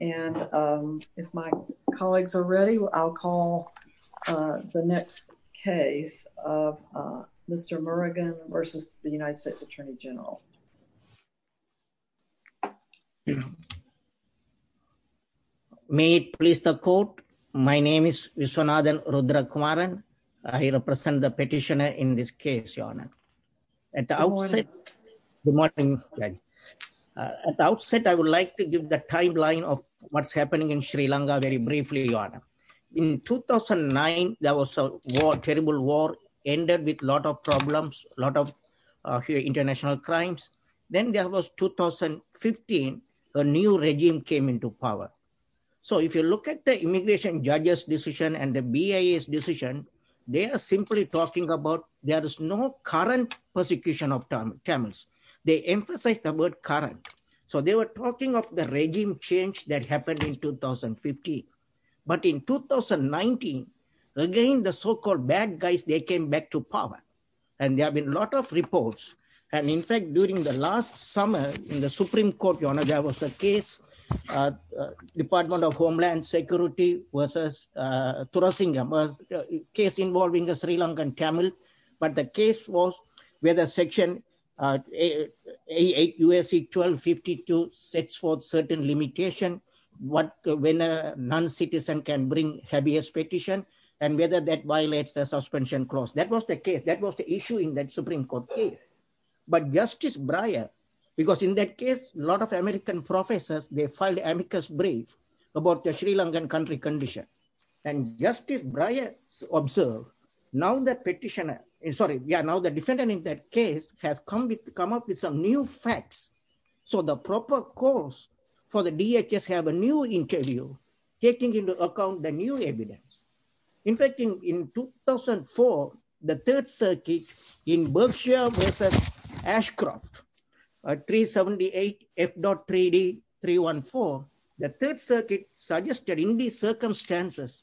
and if my colleagues are ready I'll call the next case of Mr. Murugan v. U.S. Attorney General. May it please the court. My name is Viswanathan Rudrakumaran. I represent the petitioner in this line of what's happening in Sri Lanka very briefly your honor. In 2009 there was a war terrible war ended with a lot of problems a lot of international crimes. Then there was 2015 a new regime came into power. So if you look at the immigration judge's decision and the BIA's decision they are simply talking about there is no current persecution of Tamils. They emphasize the word current. So they were talking of the regime change that happened in 2015. But in 2019 again the so-called bad guys they came back to power and there have been a lot of reports and in fact during the last summer in the Supreme Court your honor there was a case Department of Homeland Security versus Thurasingam. A case involving the Sri Lankan Tamil but the case was whether section 8 U.S.C. 1252 sets forth certain limitation what when a non-citizen can bring habeas petition and whether that violates the suspension clause. That was the case that was the issue in that Supreme Court case. But Justice Breyer because in that case a lot of American professors they amicus brief about the Sri Lankan country condition and Justice Breyer observed now the petitioner sorry yeah now the defendant in that case has come with come up with some new facts. So the proper cause for the DHS have a new interview taking into account the new evidence. In fact in 2004 the third circuit in Berkshire versus Ashcroft at 378 F dot 3D 314 the third circuit suggested in these circumstances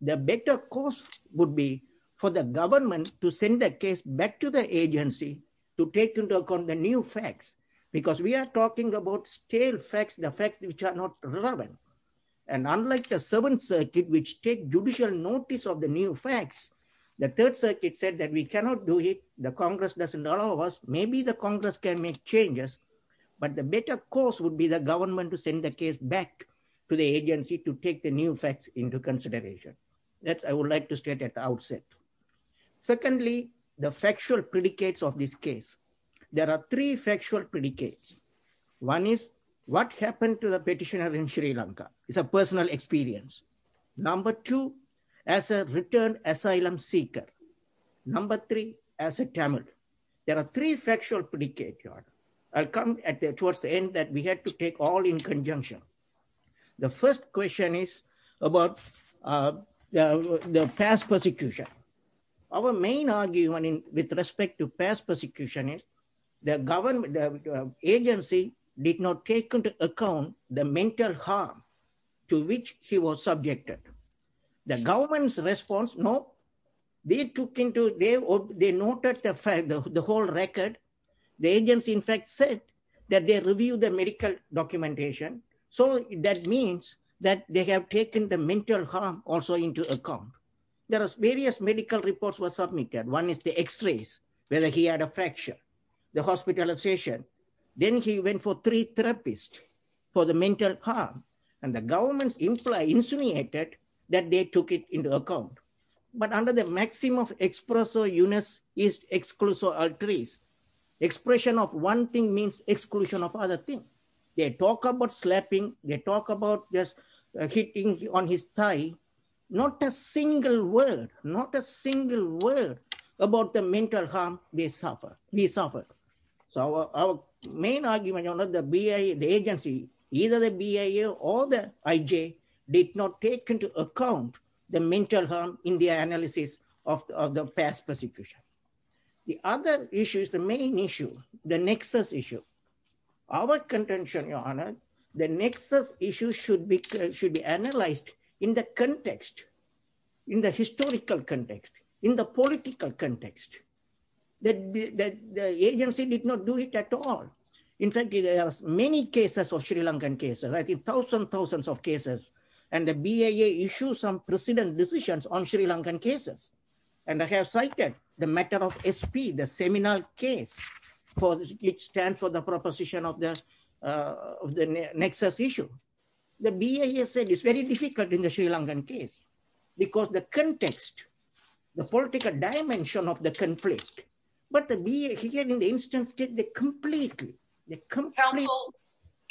the better course would be for the government to send the case back to the agency to take into account the new facts because we are talking about stale facts the facts which are not relevant and unlike the seventh circuit which take judicial notice of the new facts the third circuit said that we cannot do it the congress doesn't allow us maybe the congress can make changes but the better course would be the government to send the case back to the agency to take the new facts into consideration. That's I would like to state at the outset. Secondly the factual predicates of this case. There are three factual predicates. One is what happened to the petitioner in Sri Lanka. It's a personal experience. Number two as a return asylum seeker. Number three as a Tamil. There are three factual predicate I'll come at the towards the end that we had to take all in conjunction. The first question is about the the past persecution. Our main argument in with respect to past persecution is the government agency did not take into account the mental harm to which he was subjected. The government's response no. They took into they noted the fact the whole record the agency in fact said that they review the medical documentation so that means that they have taken the mental harm also into account. There are various medical reports were submitted. One is the x-rays whether he had a fracture. The hospitalization. Then he went for three therapists for the mental harm and the government's imply insinuated that they took it into account. But under the maxim of expresso unis is exclusive arteries. Expression of one thing means exclusion of other thing. They talk about slapping. They talk about just hitting on his thigh. Not a single word. Not a single word about the mental harm they suffer. We suffer. So our main argument on the BIA the agency either the BIA or the IJ did not take into account the mental harm in the analysis of the past persecution. The other issue is the main issue. The nexus issue. Our contention your context in the historical context in the political context that the agency did not do it at all. In fact there are many cases of Sri Lankan cases. I think thousands of cases and the BIA issue some precedent decisions on Sri Lankan cases and I have cited the matter of SP the seminal case for which stands for the proposition of the nexus issue. The BIA said it's very difficult in the Sri Lankan case because the context the political dimension of the conflict but the BIA in the instance did it completely.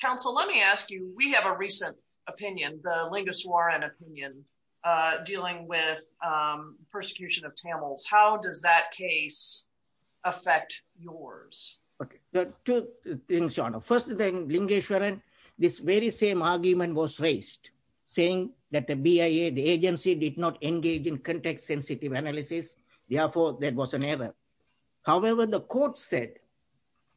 Council let me ask you we have a recent opinion the Lingeswaran opinion dealing with persecution of Tamils. How does that case affect yours? Okay two things Shona. First thing Lingeswaran this very same argument was raised saying that the BIA the agency did not engage in context sensitive analysis therefore there was an error. However the court said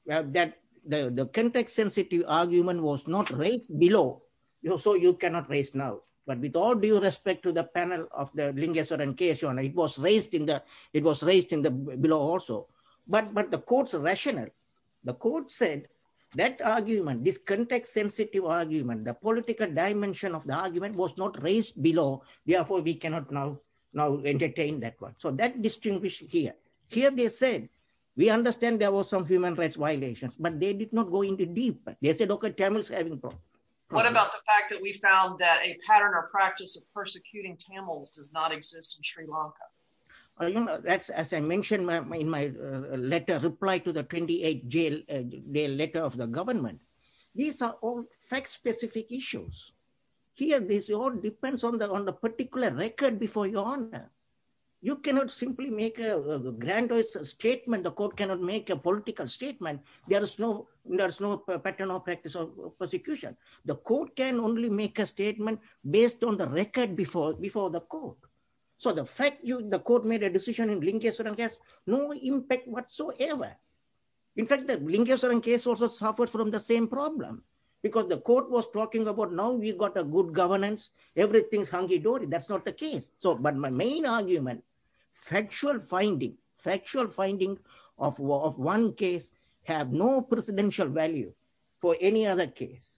that the context sensitive argument was not right below so you cannot raise now but with all due respect to the panel of the Lingeswaran case Shona it was raised it was raised in the below also but but the court's rationale the court said that argument this context sensitive argument the political dimension of the argument was not raised below therefore we cannot now now entertain that one. So that distinguishes here. Here they said we understand there was some human rights violations but they did not go into deep. They said okay Tamils having problem. What about the fact that we found that a pattern or practice of persecuting Tamils does not exist in Sri Lanka? You know that's as I mentioned in my letter reply to the 28th day letter of the government. These are all fact specific issues. Here this all depends on the on the particular record before your honor. You cannot simply make a grand statement. The court cannot make a political statement. There is no there's no pattern or practice of persecution. The court can only make a statement based on the record before before the court. So the fact you the court made a decision in Lingeswaran has no impact whatsoever. In fact the Lingeswaran case also suffered from the same problem because the court was talking about now we got a good governance everything's hunky-dory. That's not the case. So but my main argument factual finding factual finding of of one case have no presidential value for any other case.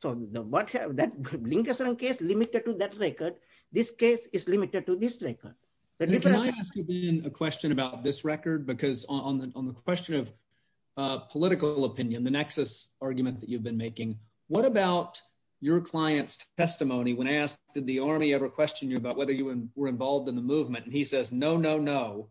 So what have that Lingeswaran case limited to that record. This case is limited to this record. A question about this record because on the on the question of political opinion the nexus argument that you've been making what about your client's testimony when asked did the army ever question you about whether you were involved in the movement and he says no no no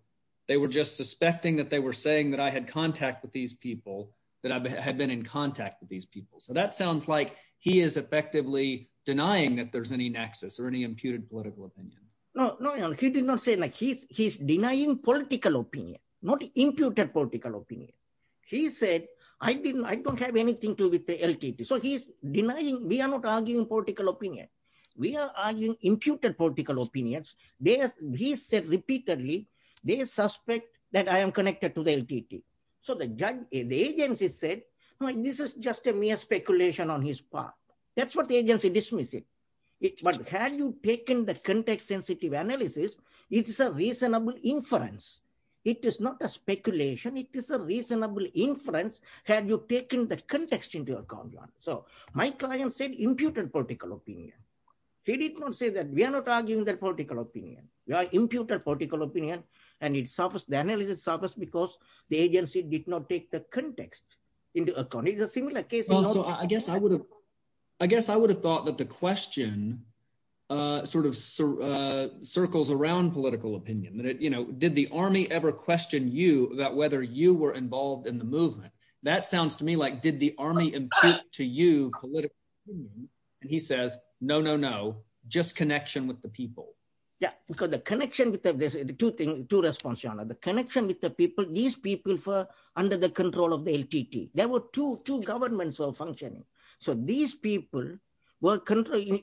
they were just suspecting that they were saying that I had contact with these people that I had been in contact with these people. So that sounds like he is effectively denying that there's any nexus or any imputed political opinion. No no he did not say like he's he's denying political opinion not imputed political opinion. He said I didn't I don't have anything to with the LTT. So he's denying we are not arguing political opinion. We are arguing imputed political opinions. They he said repeatedly they suspect that I am connected to the LTT. So the judge the agency said no this is just a mere speculation on his part. That's what the agency dismiss it. But had you taken the context sensitive analysis it is a reasonable inference. It is not a speculation. It is a reasonable inference had you taken the context into account. So my client said imputed political opinion. He did not say that we are not arguing that political opinion. We are imputed political opinion and it suffers the analysis suffers because the agency did not take the context into account. It's a similar case. Also I guess I would have I guess I would have thought that the question sort of circles around political opinion that you know did the army ever question you about whether you were involved in the movement. That sounds to me like did the army impute to you political opinion. And he says no no no just connection with the people. Yeah because the connection with the two thing two response on the connection with the people these people for under the control of the LTT. There were two two governments were functioning. So these people were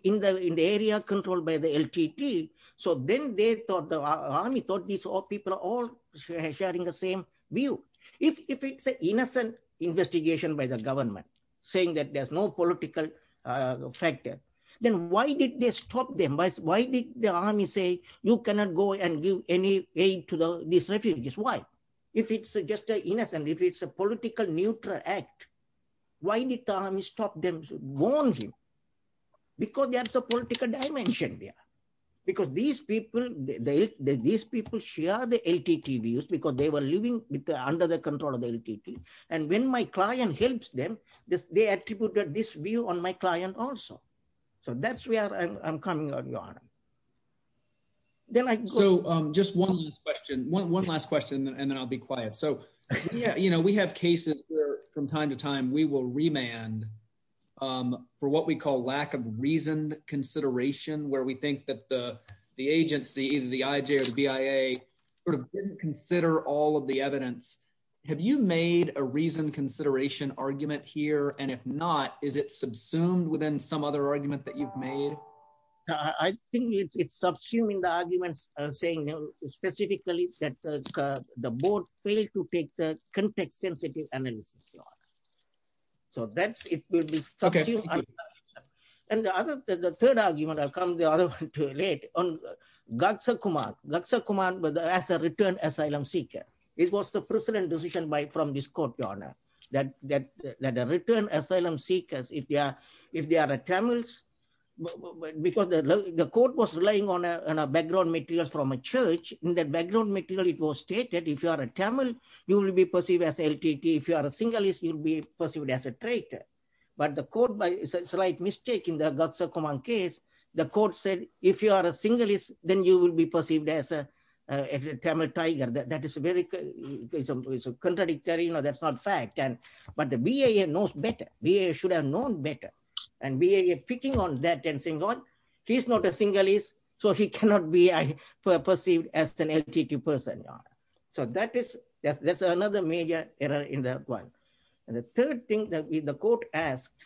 in the area controlled by the LTT. So then they thought the army thought these people are all sharing the same view. If it's an innocent investigation by the government saying that there's no political factor then why did they stop them. Why did the army say you cannot go and give any aid to these refugees. Why if it's just an innocent if it's a political neutral act. Why did the army stop them warn him because there's a political dimension there. Because these people they these people share the LTT views because they were living with under the control of the LTT. And when my client helps them this they attributed this view on my client also. So that's where I'm coming on your honor. Then I so just one last question one last question and then I'll be quiet. So yeah you know we have cases where from time to time we will remand for what we call lack of reasoned consideration where we think that the the have you made a reasoned consideration argument here and if not is it subsumed within some other argument that you've made. I think it's subsuming the arguments saying specifically that the board failed to take the context sensitive analysis. So that's it will be okay. And the other the third argument I'll come the other one too late on Gagsa Kumar. Gagsa Kumar was a returned asylum seeker. It was the precedent decision by from this court your honor that that that the return asylum seekers if they are if they are Tamils because the court was relying on a background materials from a church. In that background material it was stated if you are a Tamil you will be perceived as LTT. If you are a singleist you'll be perceived as a traitor. But the court by a slight mistake in the Gagsa Kumar case the court said if you are a singleist then you will be perceived as a Tamil tiger. That is very contradictory you know that's not fact and but the BIA knows better. BIA should have known better and BIA picking on that and saying what he's not a singleist so he cannot be perceived as an LTT person your honor. So that is that's that's another major error in that one. And the third thing that the court asked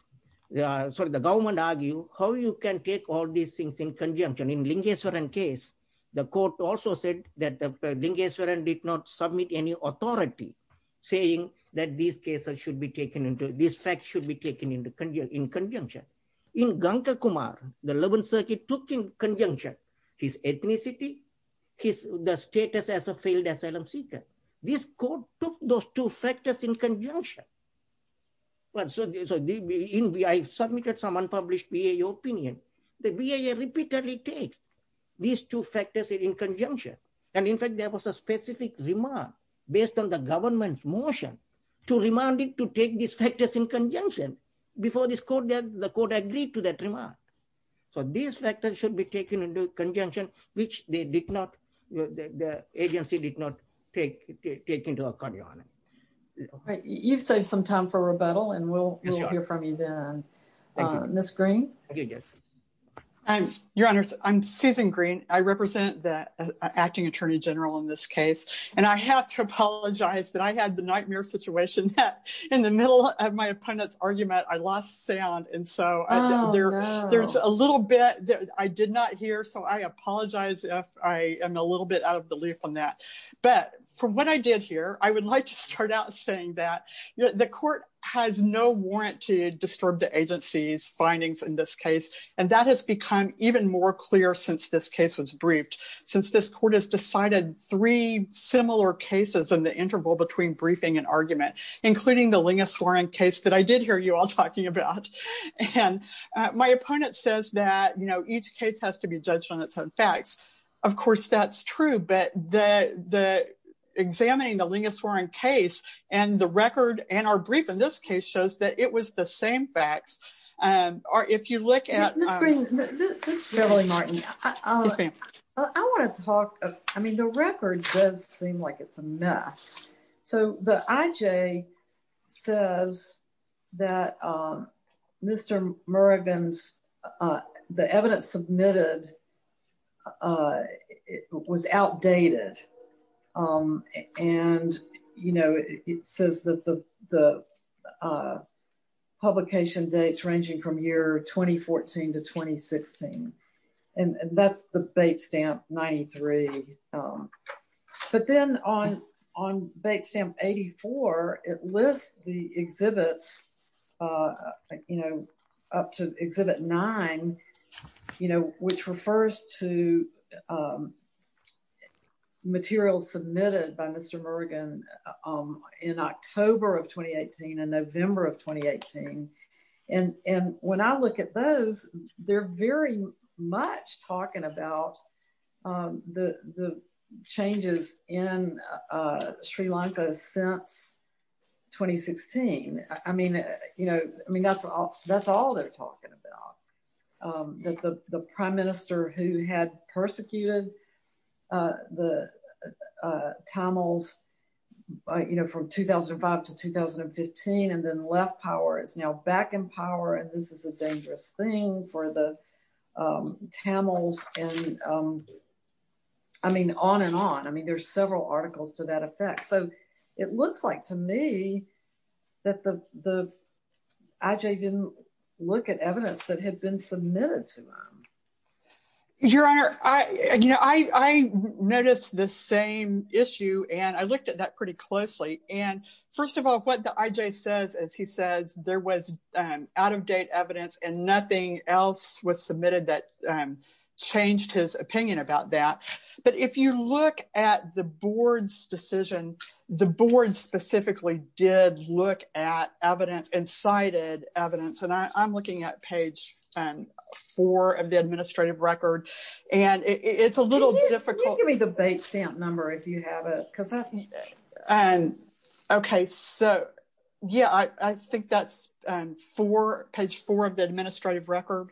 sorry the government argue how you can take all these things in conjunction. In Lingeswaran case the court also said that the Lingeswaran did not submit any authority saying that these cases should be taken into this fact should be taken into in conjunction. In Ganga Kumar the 11th circuit took in conjunction his ethnicity, his the status as a failed asylum seeker. This court took those two factors in conjunction. But so I submitted some unpublished BIA opinion. The BIA repeatedly takes these two factors in conjunction and in fact there was a specific remark based on the government's motion to remind it to take these factors in conjunction before this court that the court agreed to that remark. So these factors should be taken into conjunction which they did not the agency did not take take into account your honor. You've saved some time for rebuttal and we'll hear from you then. Ms. Green. I'm your honors I'm Susan Green. I represent the acting attorney general in this case and I have to apologize that I had the nightmare situation that in the middle of my opponent's argument I lost sound and so there there's a little bit that I did not hear so I from what I did here I would like to start out saying that the court has no warrant to disturb the agency's findings in this case and that has become even more clear since this case was briefed since this court has decided three similar cases in the interval between briefing and argument including the Lingus Warren case that I did hear you all talking about and my opponent says that each case has to be judged on its own facts of course that's true but the examining the Lingus Warren case and the record and our brief in this case shows that it was the same facts or if you look at Ms. Green, Ms. Beverly Martin, I want to talk I mean the record does seem like it's a mess so the IJ says that Mr. Murrigan's the evidence submitted was outdated and you know it says that the publication dates ranging from year 2014 to 2016 and that's the bait stamp 93 but then on bait stamp 84 it lists the exhibits you know up to exhibit nine you know which refers to materials submitted by Mr. Murrigan in October of 2018 and November of 2018 and when I look at those they're very much talking about the changes in Sri Lanka since 2016 I mean you know I mean that's all that's all they're talking about that the prime minister who had persecuted the Tamils you know from 2005 to 2015 and then left power is now back in power and this is a dangerous thing for the Tamils and I mean on and on I mean there's several articles to that effect so it looks like to me that the the IJ didn't look at evidence that had been submitted to them. Your honor I you know I noticed the same issue and I looked at that pretty closely and first of all what the IJ says is he says there was out of date evidence and nothing else was submitted that changed his opinion about that but if you look at the board's decision the board specifically did look at evidence and cited evidence and I'm looking at page four of the administrative record and it's a little difficult. Can you give me the bait stamp number if you have it? And okay so yeah I think that's for page four of the administrative record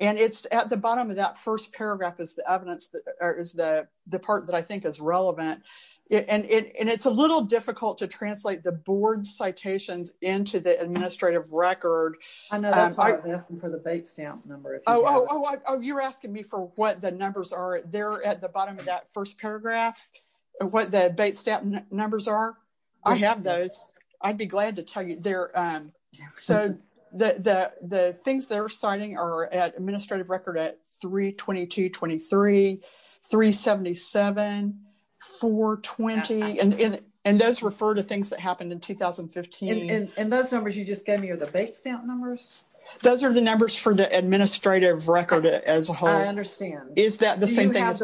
and it's at the bottom of that first paragraph is the evidence that is the the part that I think is relevant and it's a little difficult to translate the board's citations into the administrative record. I know that's why I was asking for the bait stamp number. Oh you're asking me for what the numbers are there at the bottom of that first paragraph and what the bait stamp numbers are? I have those I'd be glad to tell you they're um so the the the things they're citing are at administrative record at 322 23 377 420 and in and those refer to things that happened in 2015. And those numbers you just gave me are the bait stamp numbers? Those are the numbers for the administrative record as a whole. I understand. Is that the same thing as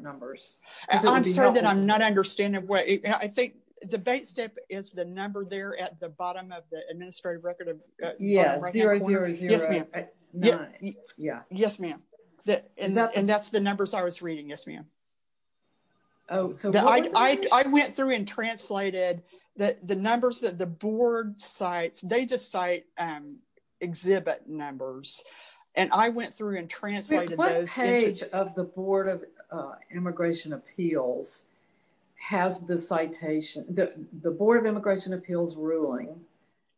numbers? I'm sorry that I'm not understanding what I think the bait stamp is the number there at the bottom of the administrative record of yes zero zero zero nine yeah yes ma'am that is that and that's the numbers I was reading yes ma'am. Oh so I I went through and translated that the numbers that the board cites they just um exhibit numbers and I went through and translated those. What page of the board of immigration appeals has the citation the board of immigration appeals ruling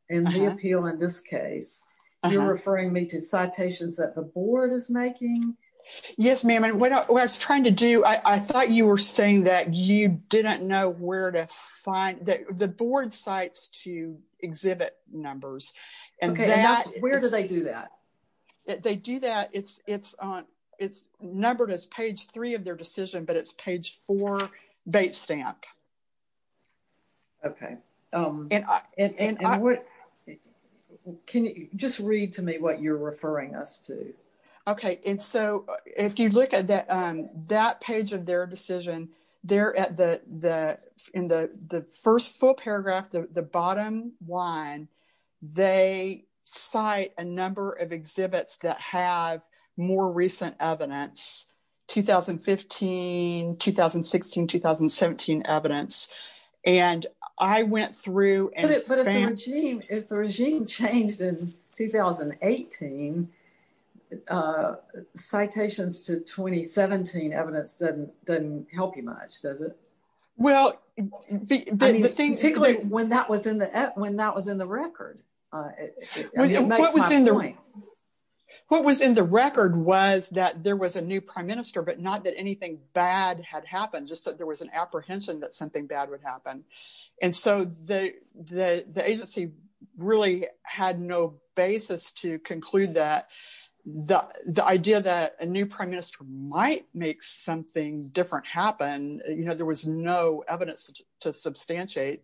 in the appeal in this case you're referring me to citations that the board is making? Yes ma'am and what I was trying to do I thought you were saying that you didn't know where to and that's where do they do that they do that it's it's on it's numbered as page three of their decision but it's page four bait stamp. Okay um and I and I would can you just read to me what you're referring us to? Okay and so if you look at that um that page of their decision they're at the the in the the first full paragraph the the bottom line they cite a number of exhibits that have more recent evidence 2015, 2016, 2017 evidence and I went through and but if the regime if the regime changed in 2018 uh citations to 2017 evidence doesn't help you much does it? Well the thing particularly when that was in the when that was in the record uh what was in the way what was in the record was that there was a new prime minister but not that anything bad had happened just that there was an apprehension that something bad would happen and so the the the agency really had no basis to conclude that the the idea that a new prime minister might make something different happen you know there was no evidence to substantiate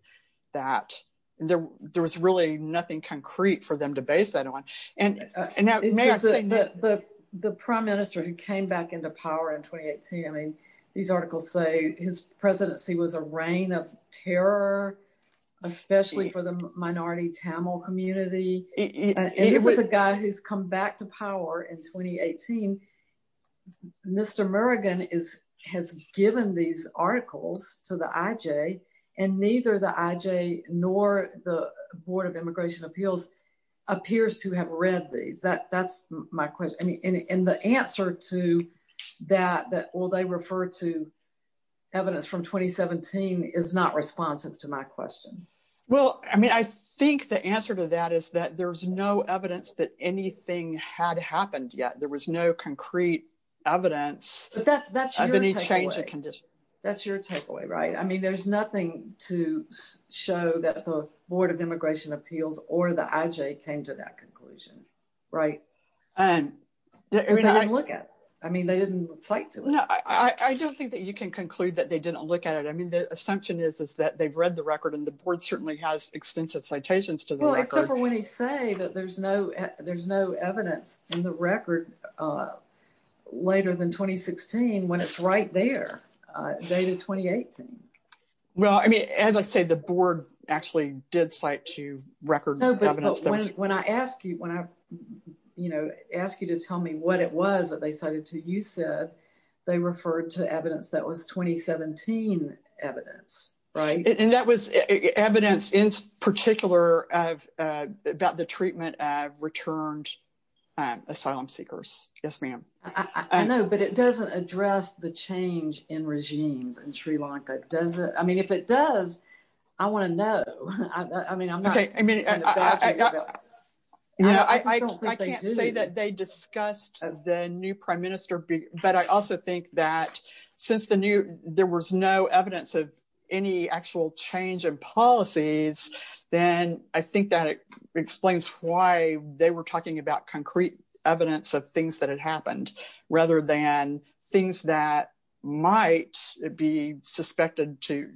that there there was really nothing concrete for them to base that on and and now the prime minister who came back into power in 2018 I mean these articles say his presidency was a reign of terror especially for the minority Tamil community it was a guy who's come back to Mr. Murrigan is has given these articles to the IJ and neither the IJ nor the Board of Immigration Appeals appears to have read these that that's my question I mean and the answer to that that will they refer to evidence from 2017 is not responsive to my question. Well I mean I think the answer to that is that there's no evidence that anything had happened yet there was no concrete evidence of any change of condition. That's your takeaway right I mean there's nothing to show that the Board of Immigration Appeals or the IJ came to that conclusion right and I look at I mean they didn't cite to it. No I don't think that you can conclude that they didn't look at it I mean the assumption is is that they've read the record and the board certainly has extensive citations to the record. Well except for when they say that there's no there's no evidence in the record later than 2016 when it's right there dated 2018. Well I mean as I say the board actually did cite to record evidence when I ask you when I you know ask you to tell me what it was that they cited to you said they referred to evidence that was 2017 evidence right and that was evidence in particular of about the treatment of returned asylum seekers yes ma'am. I know but it doesn't address the change in regimes in Sri Lanka does it I mean if it does I want to know I mean I'm not okay I mean you know I can't say that they discussed the new prime minister but I also think that since the new there was no evidence of any actual change in policies then I think that it explains why they were talking about concrete evidence of things that had happened rather than things that might be suspected to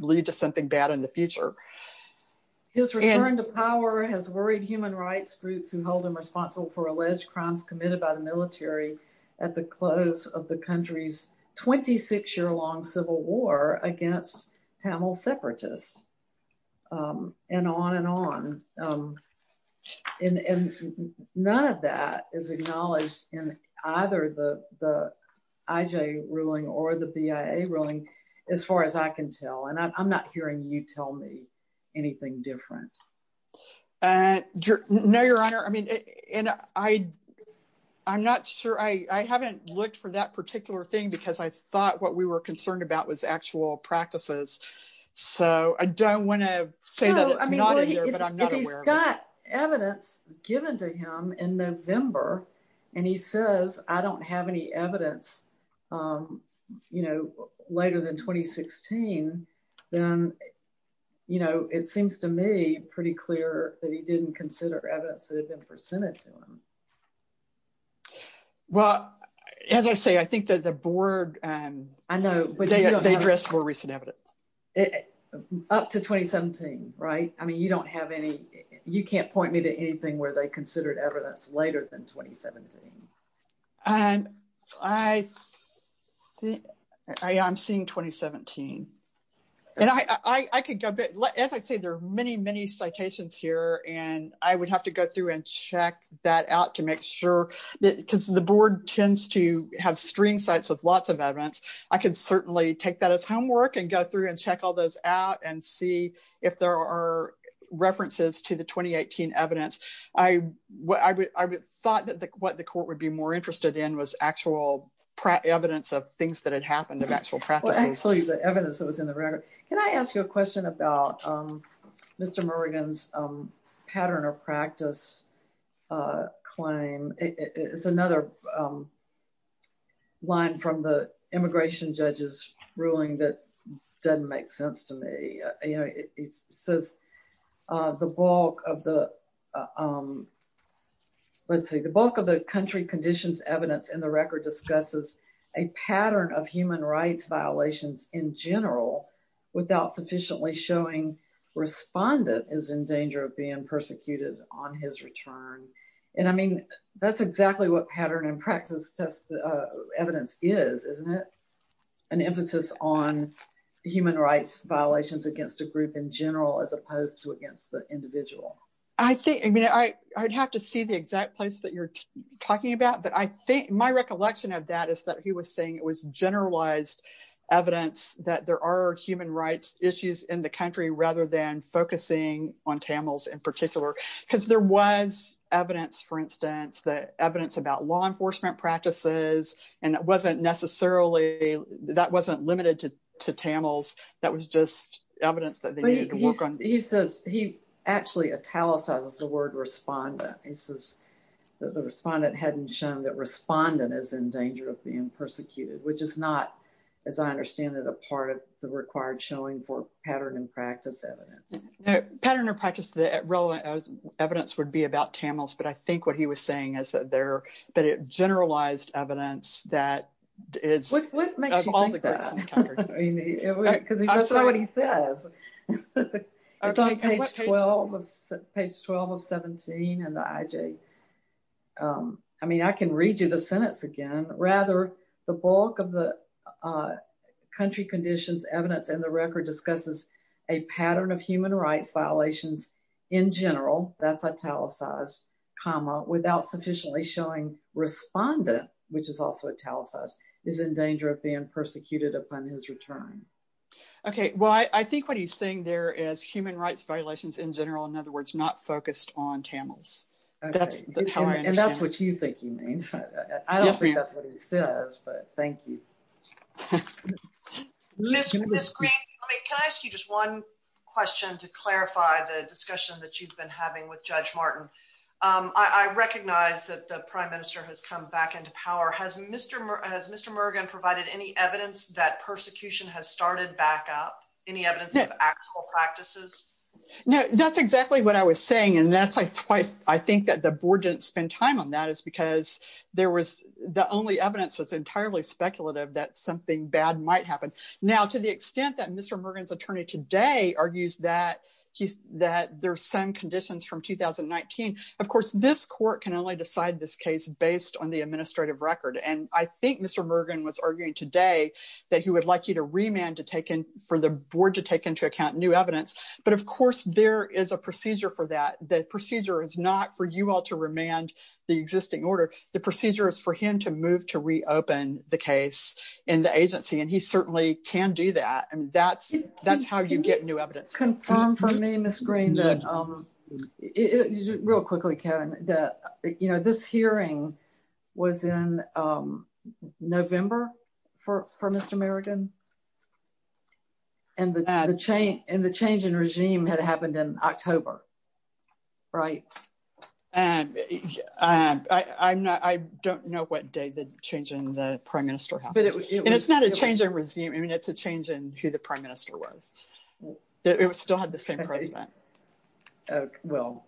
lead to something bad in the future. His return to power has worried human rights groups who hold him responsible for alleged crimes committed by the military at the close of the country's 26-year-long civil war against Tamil separatists and on and on and none of that is acknowledged in either the the IJ ruling or the BIA ruling as far as I can tell and I'm not hearing you tell me anything different. No your honor I mean and I I'm not sure I haven't looked for that particular thing because I thought what we were concerned about was actual practices so I don't want to say that it's not either but I'm not aware. If he's got evidence given to him in November and he says I don't have any evidence you know later than 2016 then you know it seems to me pretty clear that he didn't consider evidence that had been presented to him. Well as I say I think that the board I know but they addressed more recent evidence. Up to 2017 right I mean you don't have any you can't point me to anything where they considered evidence later than 2017. I'm seeing 2017 and I could go but as I say there are many many citations here and I would have to go through and check that out to make sure that because the board tends to have string sites with lots of evidence I can certainly take that as homework and go through and check all those out and see if there are references to the 2018 evidence. I thought that what the court would be more interested in was actual evidence of things that had happened of actual practices. Well actually the evidence that was in the record. Can I ask you a question about Mr. Murrigan's pattern or practice claim? It's another line from the immigration judge's ruling that doesn't make sense to me. You know it says the bulk of the let's see the bulk of the country conditions evidence in the record discusses a pattern of human rights violations in general without sufficiently showing respondent is in danger of being persecuted on his return and I on human rights violations against a group in general as opposed to against the individual. I think I mean I'd have to see the exact place that you're talking about but I think my recollection of that is that he was saying it was generalized evidence that there are human rights issues in the country rather than focusing on Tamils in particular because there was evidence for instance the evidence about law enforcement practices and it wasn't necessarily that wasn't limited to to Tamils that was just evidence that they needed to work on. He says he actually italicizes the word respondent. He says that the respondent hadn't shown that respondent is in danger of being persecuted which is not as I understand it a part of the required showing for pattern and practice evidence. Pattern or practice the relevant evidence would be about Tamils but I think what he was saying is that there but it generalized evidence that is what makes you think that because that's not what he says. It's on page 12 of page 12 of 17 and the IJ. I mean I can read you the sentence again rather the bulk of the country conditions evidence in the record discusses a pattern of human rights violations in general that's italicized comma without sufficiently showing respondent which is also italicized is in danger of being persecuted upon his return. Okay well I think what he's saying there is human rights violations in general in other words not focused on Tamils. That's how I understand. And that's what you think he means. I don't think that's what he says but thank you. Miss Green can I ask you just one question to clarify the discussion that you've been having with Judge Martin. I recognize that the Prime Minister has come back into power. Has Mr. Murgan provided any evidence that persecution has started back up? Any evidence of actual practices? No that's exactly what I was saying and that's why I think that the board didn't spend time on that is because there was the only evidence was entirely speculative that something bad might happen. Now to the extent that Mr. Murgan's attorney today argues that he's that there's some conditions from 2019. Of course this court can only decide this case based on the administrative record and I think Mr. Murgan was arguing today that he would like you to remand to take in for the board to take into account new evidence. But of course there is a procedure for that. The procedure is not for you all to remand the existing order. The procedure is for him to move to reopen the case in the agency and he that's how you get new evidence. Confirm for me Ms. Green that real quickly Kevin that you know this hearing was in November for Mr. Murgan and the change in regime had happened in October, right? I don't know what day the change in the Prime Minister happened and it's not a change I mean it's a change in who the Prime Minister was. It still had the same president. Well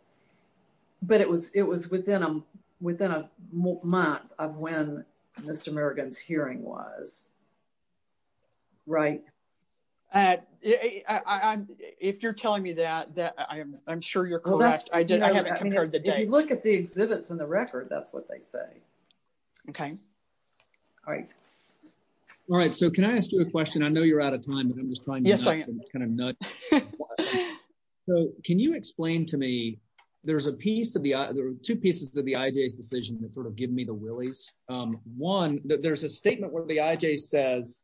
but it was within a month of when Mr. Murgan's hearing was, right? If you're telling me that I'm sure you're correct. I haven't compared the dates. If you look at the exhibits in the record that's what they say. Okay all right. All right so can I ask you a question? I know you're out of time but I'm just trying to kind of nudge. So can you explain to me there's a piece of the there are two pieces of the IJ's decision that sort of give me the willies. One there's a statement where the IJ says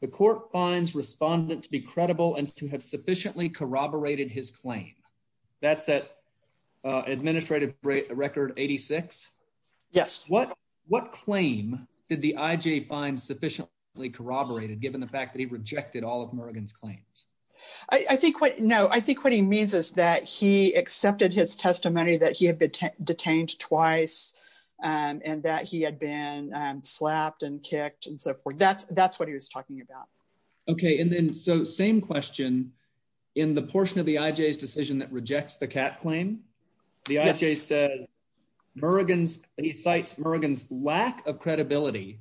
the court finds respondent to be credible and to have sufficiently corroborated his claim. That's that administrative record 86? Yes. What claim did the IJ find sufficiently corroborated given the fact that he rejected all of Murgan's claims? I think what no I think what he means is that he accepted his testimony that he had been detained twice and that he had been slapped and kicked and so forth. That's what he was talking about. Okay and then so same question in the rejects the Kat claim. The IJ says Murgan's he cites Murgan's lack of credibility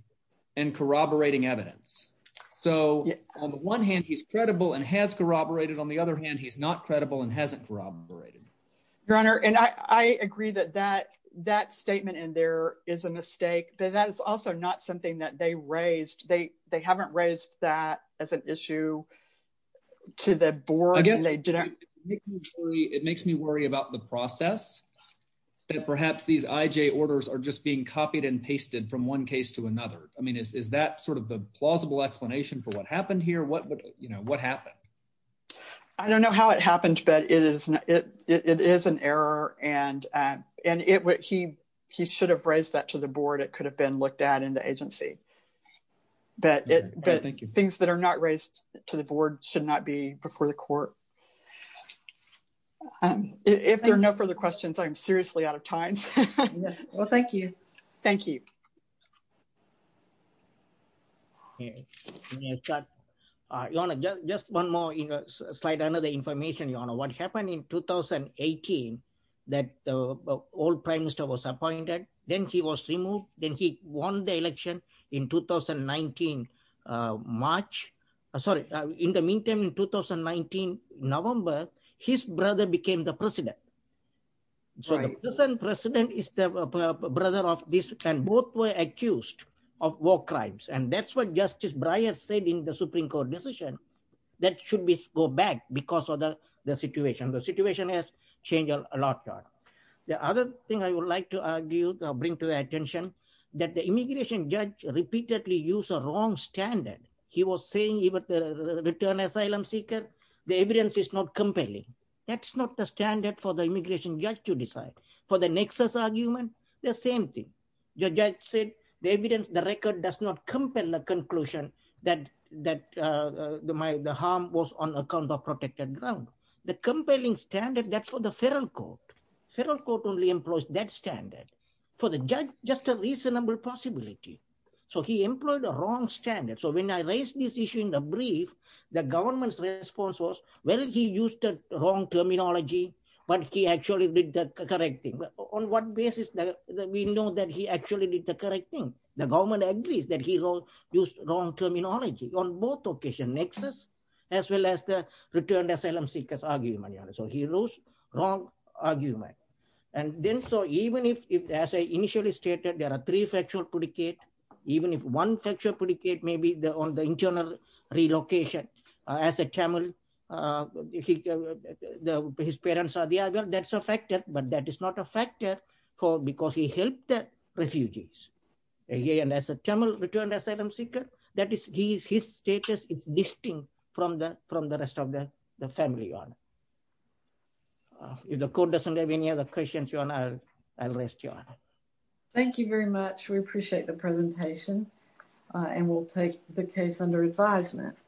and corroborating evidence. So on the one hand he's credible and has corroborated. On the other hand he's not credible and hasn't corroborated. Your honor and I agree that that that statement in there is a mistake but that is also not something that they raised. They haven't raised that as an issue to the board. I guess it makes me worry about the process that perhaps these IJ orders are just being copied and pasted from one case to another. I mean is that sort of the plausible explanation for what happened here? What would you know what happened? I don't know how it happened but it is it it is an error and and it what he he should have raised that to the board. It could have been looked at in the agency but it but things that are not raised to the board should not be before the court. If there are no further questions I'm seriously out of time. Well thank you. Thank you. Your honor just one more you know slight another information your honor. What happened in 2018 that the old prime minister was appointed then he was removed then he won the election in 2019 March sorry in the meantime in 2019 November his brother became the president. So the present president is the brother of this and both were accused of war crimes and that's what justice Breyer said in the supreme court decision that should be go back because of the situation. The situation has changed a lot. The other thing I would like to argue or bring to the attention that the immigration judge repeatedly used a wrong standard. He was saying even the return asylum seeker the evidence is not compelling. That's not the standard for the immigration judge to decide. For the nexus argument the same thing. The judge said the evidence the record does not compel the conclusion that that the my the harm was on account of ground. The compelling standard that's for the federal court. Federal court only employs that standard. For the judge just a reasonable possibility. So he employed a wrong standard. So when I raised this issue in the brief the government's response was well he used the wrong terminology but he actually did the correct thing. On what basis that we know that he actually did the correct thing. The government agrees that he wrote used wrong terminology on both occasion as well as the returned asylum seekers argument. So he wrote wrong argument and then so even if as I initially stated there are three factual predicate even if one factual predicate may be the on the internal relocation as a Tamil his parents are there well that's a factor but that is not a factor for because he helped the refugees. Again as a Tamil returned asylum seeker that is he is his status is distinct from the from the rest of the the family on. If the court doesn't have any other questions your honor I'll rest your honor. Thank you very much we appreciate the presentation and we'll take the case under advisement.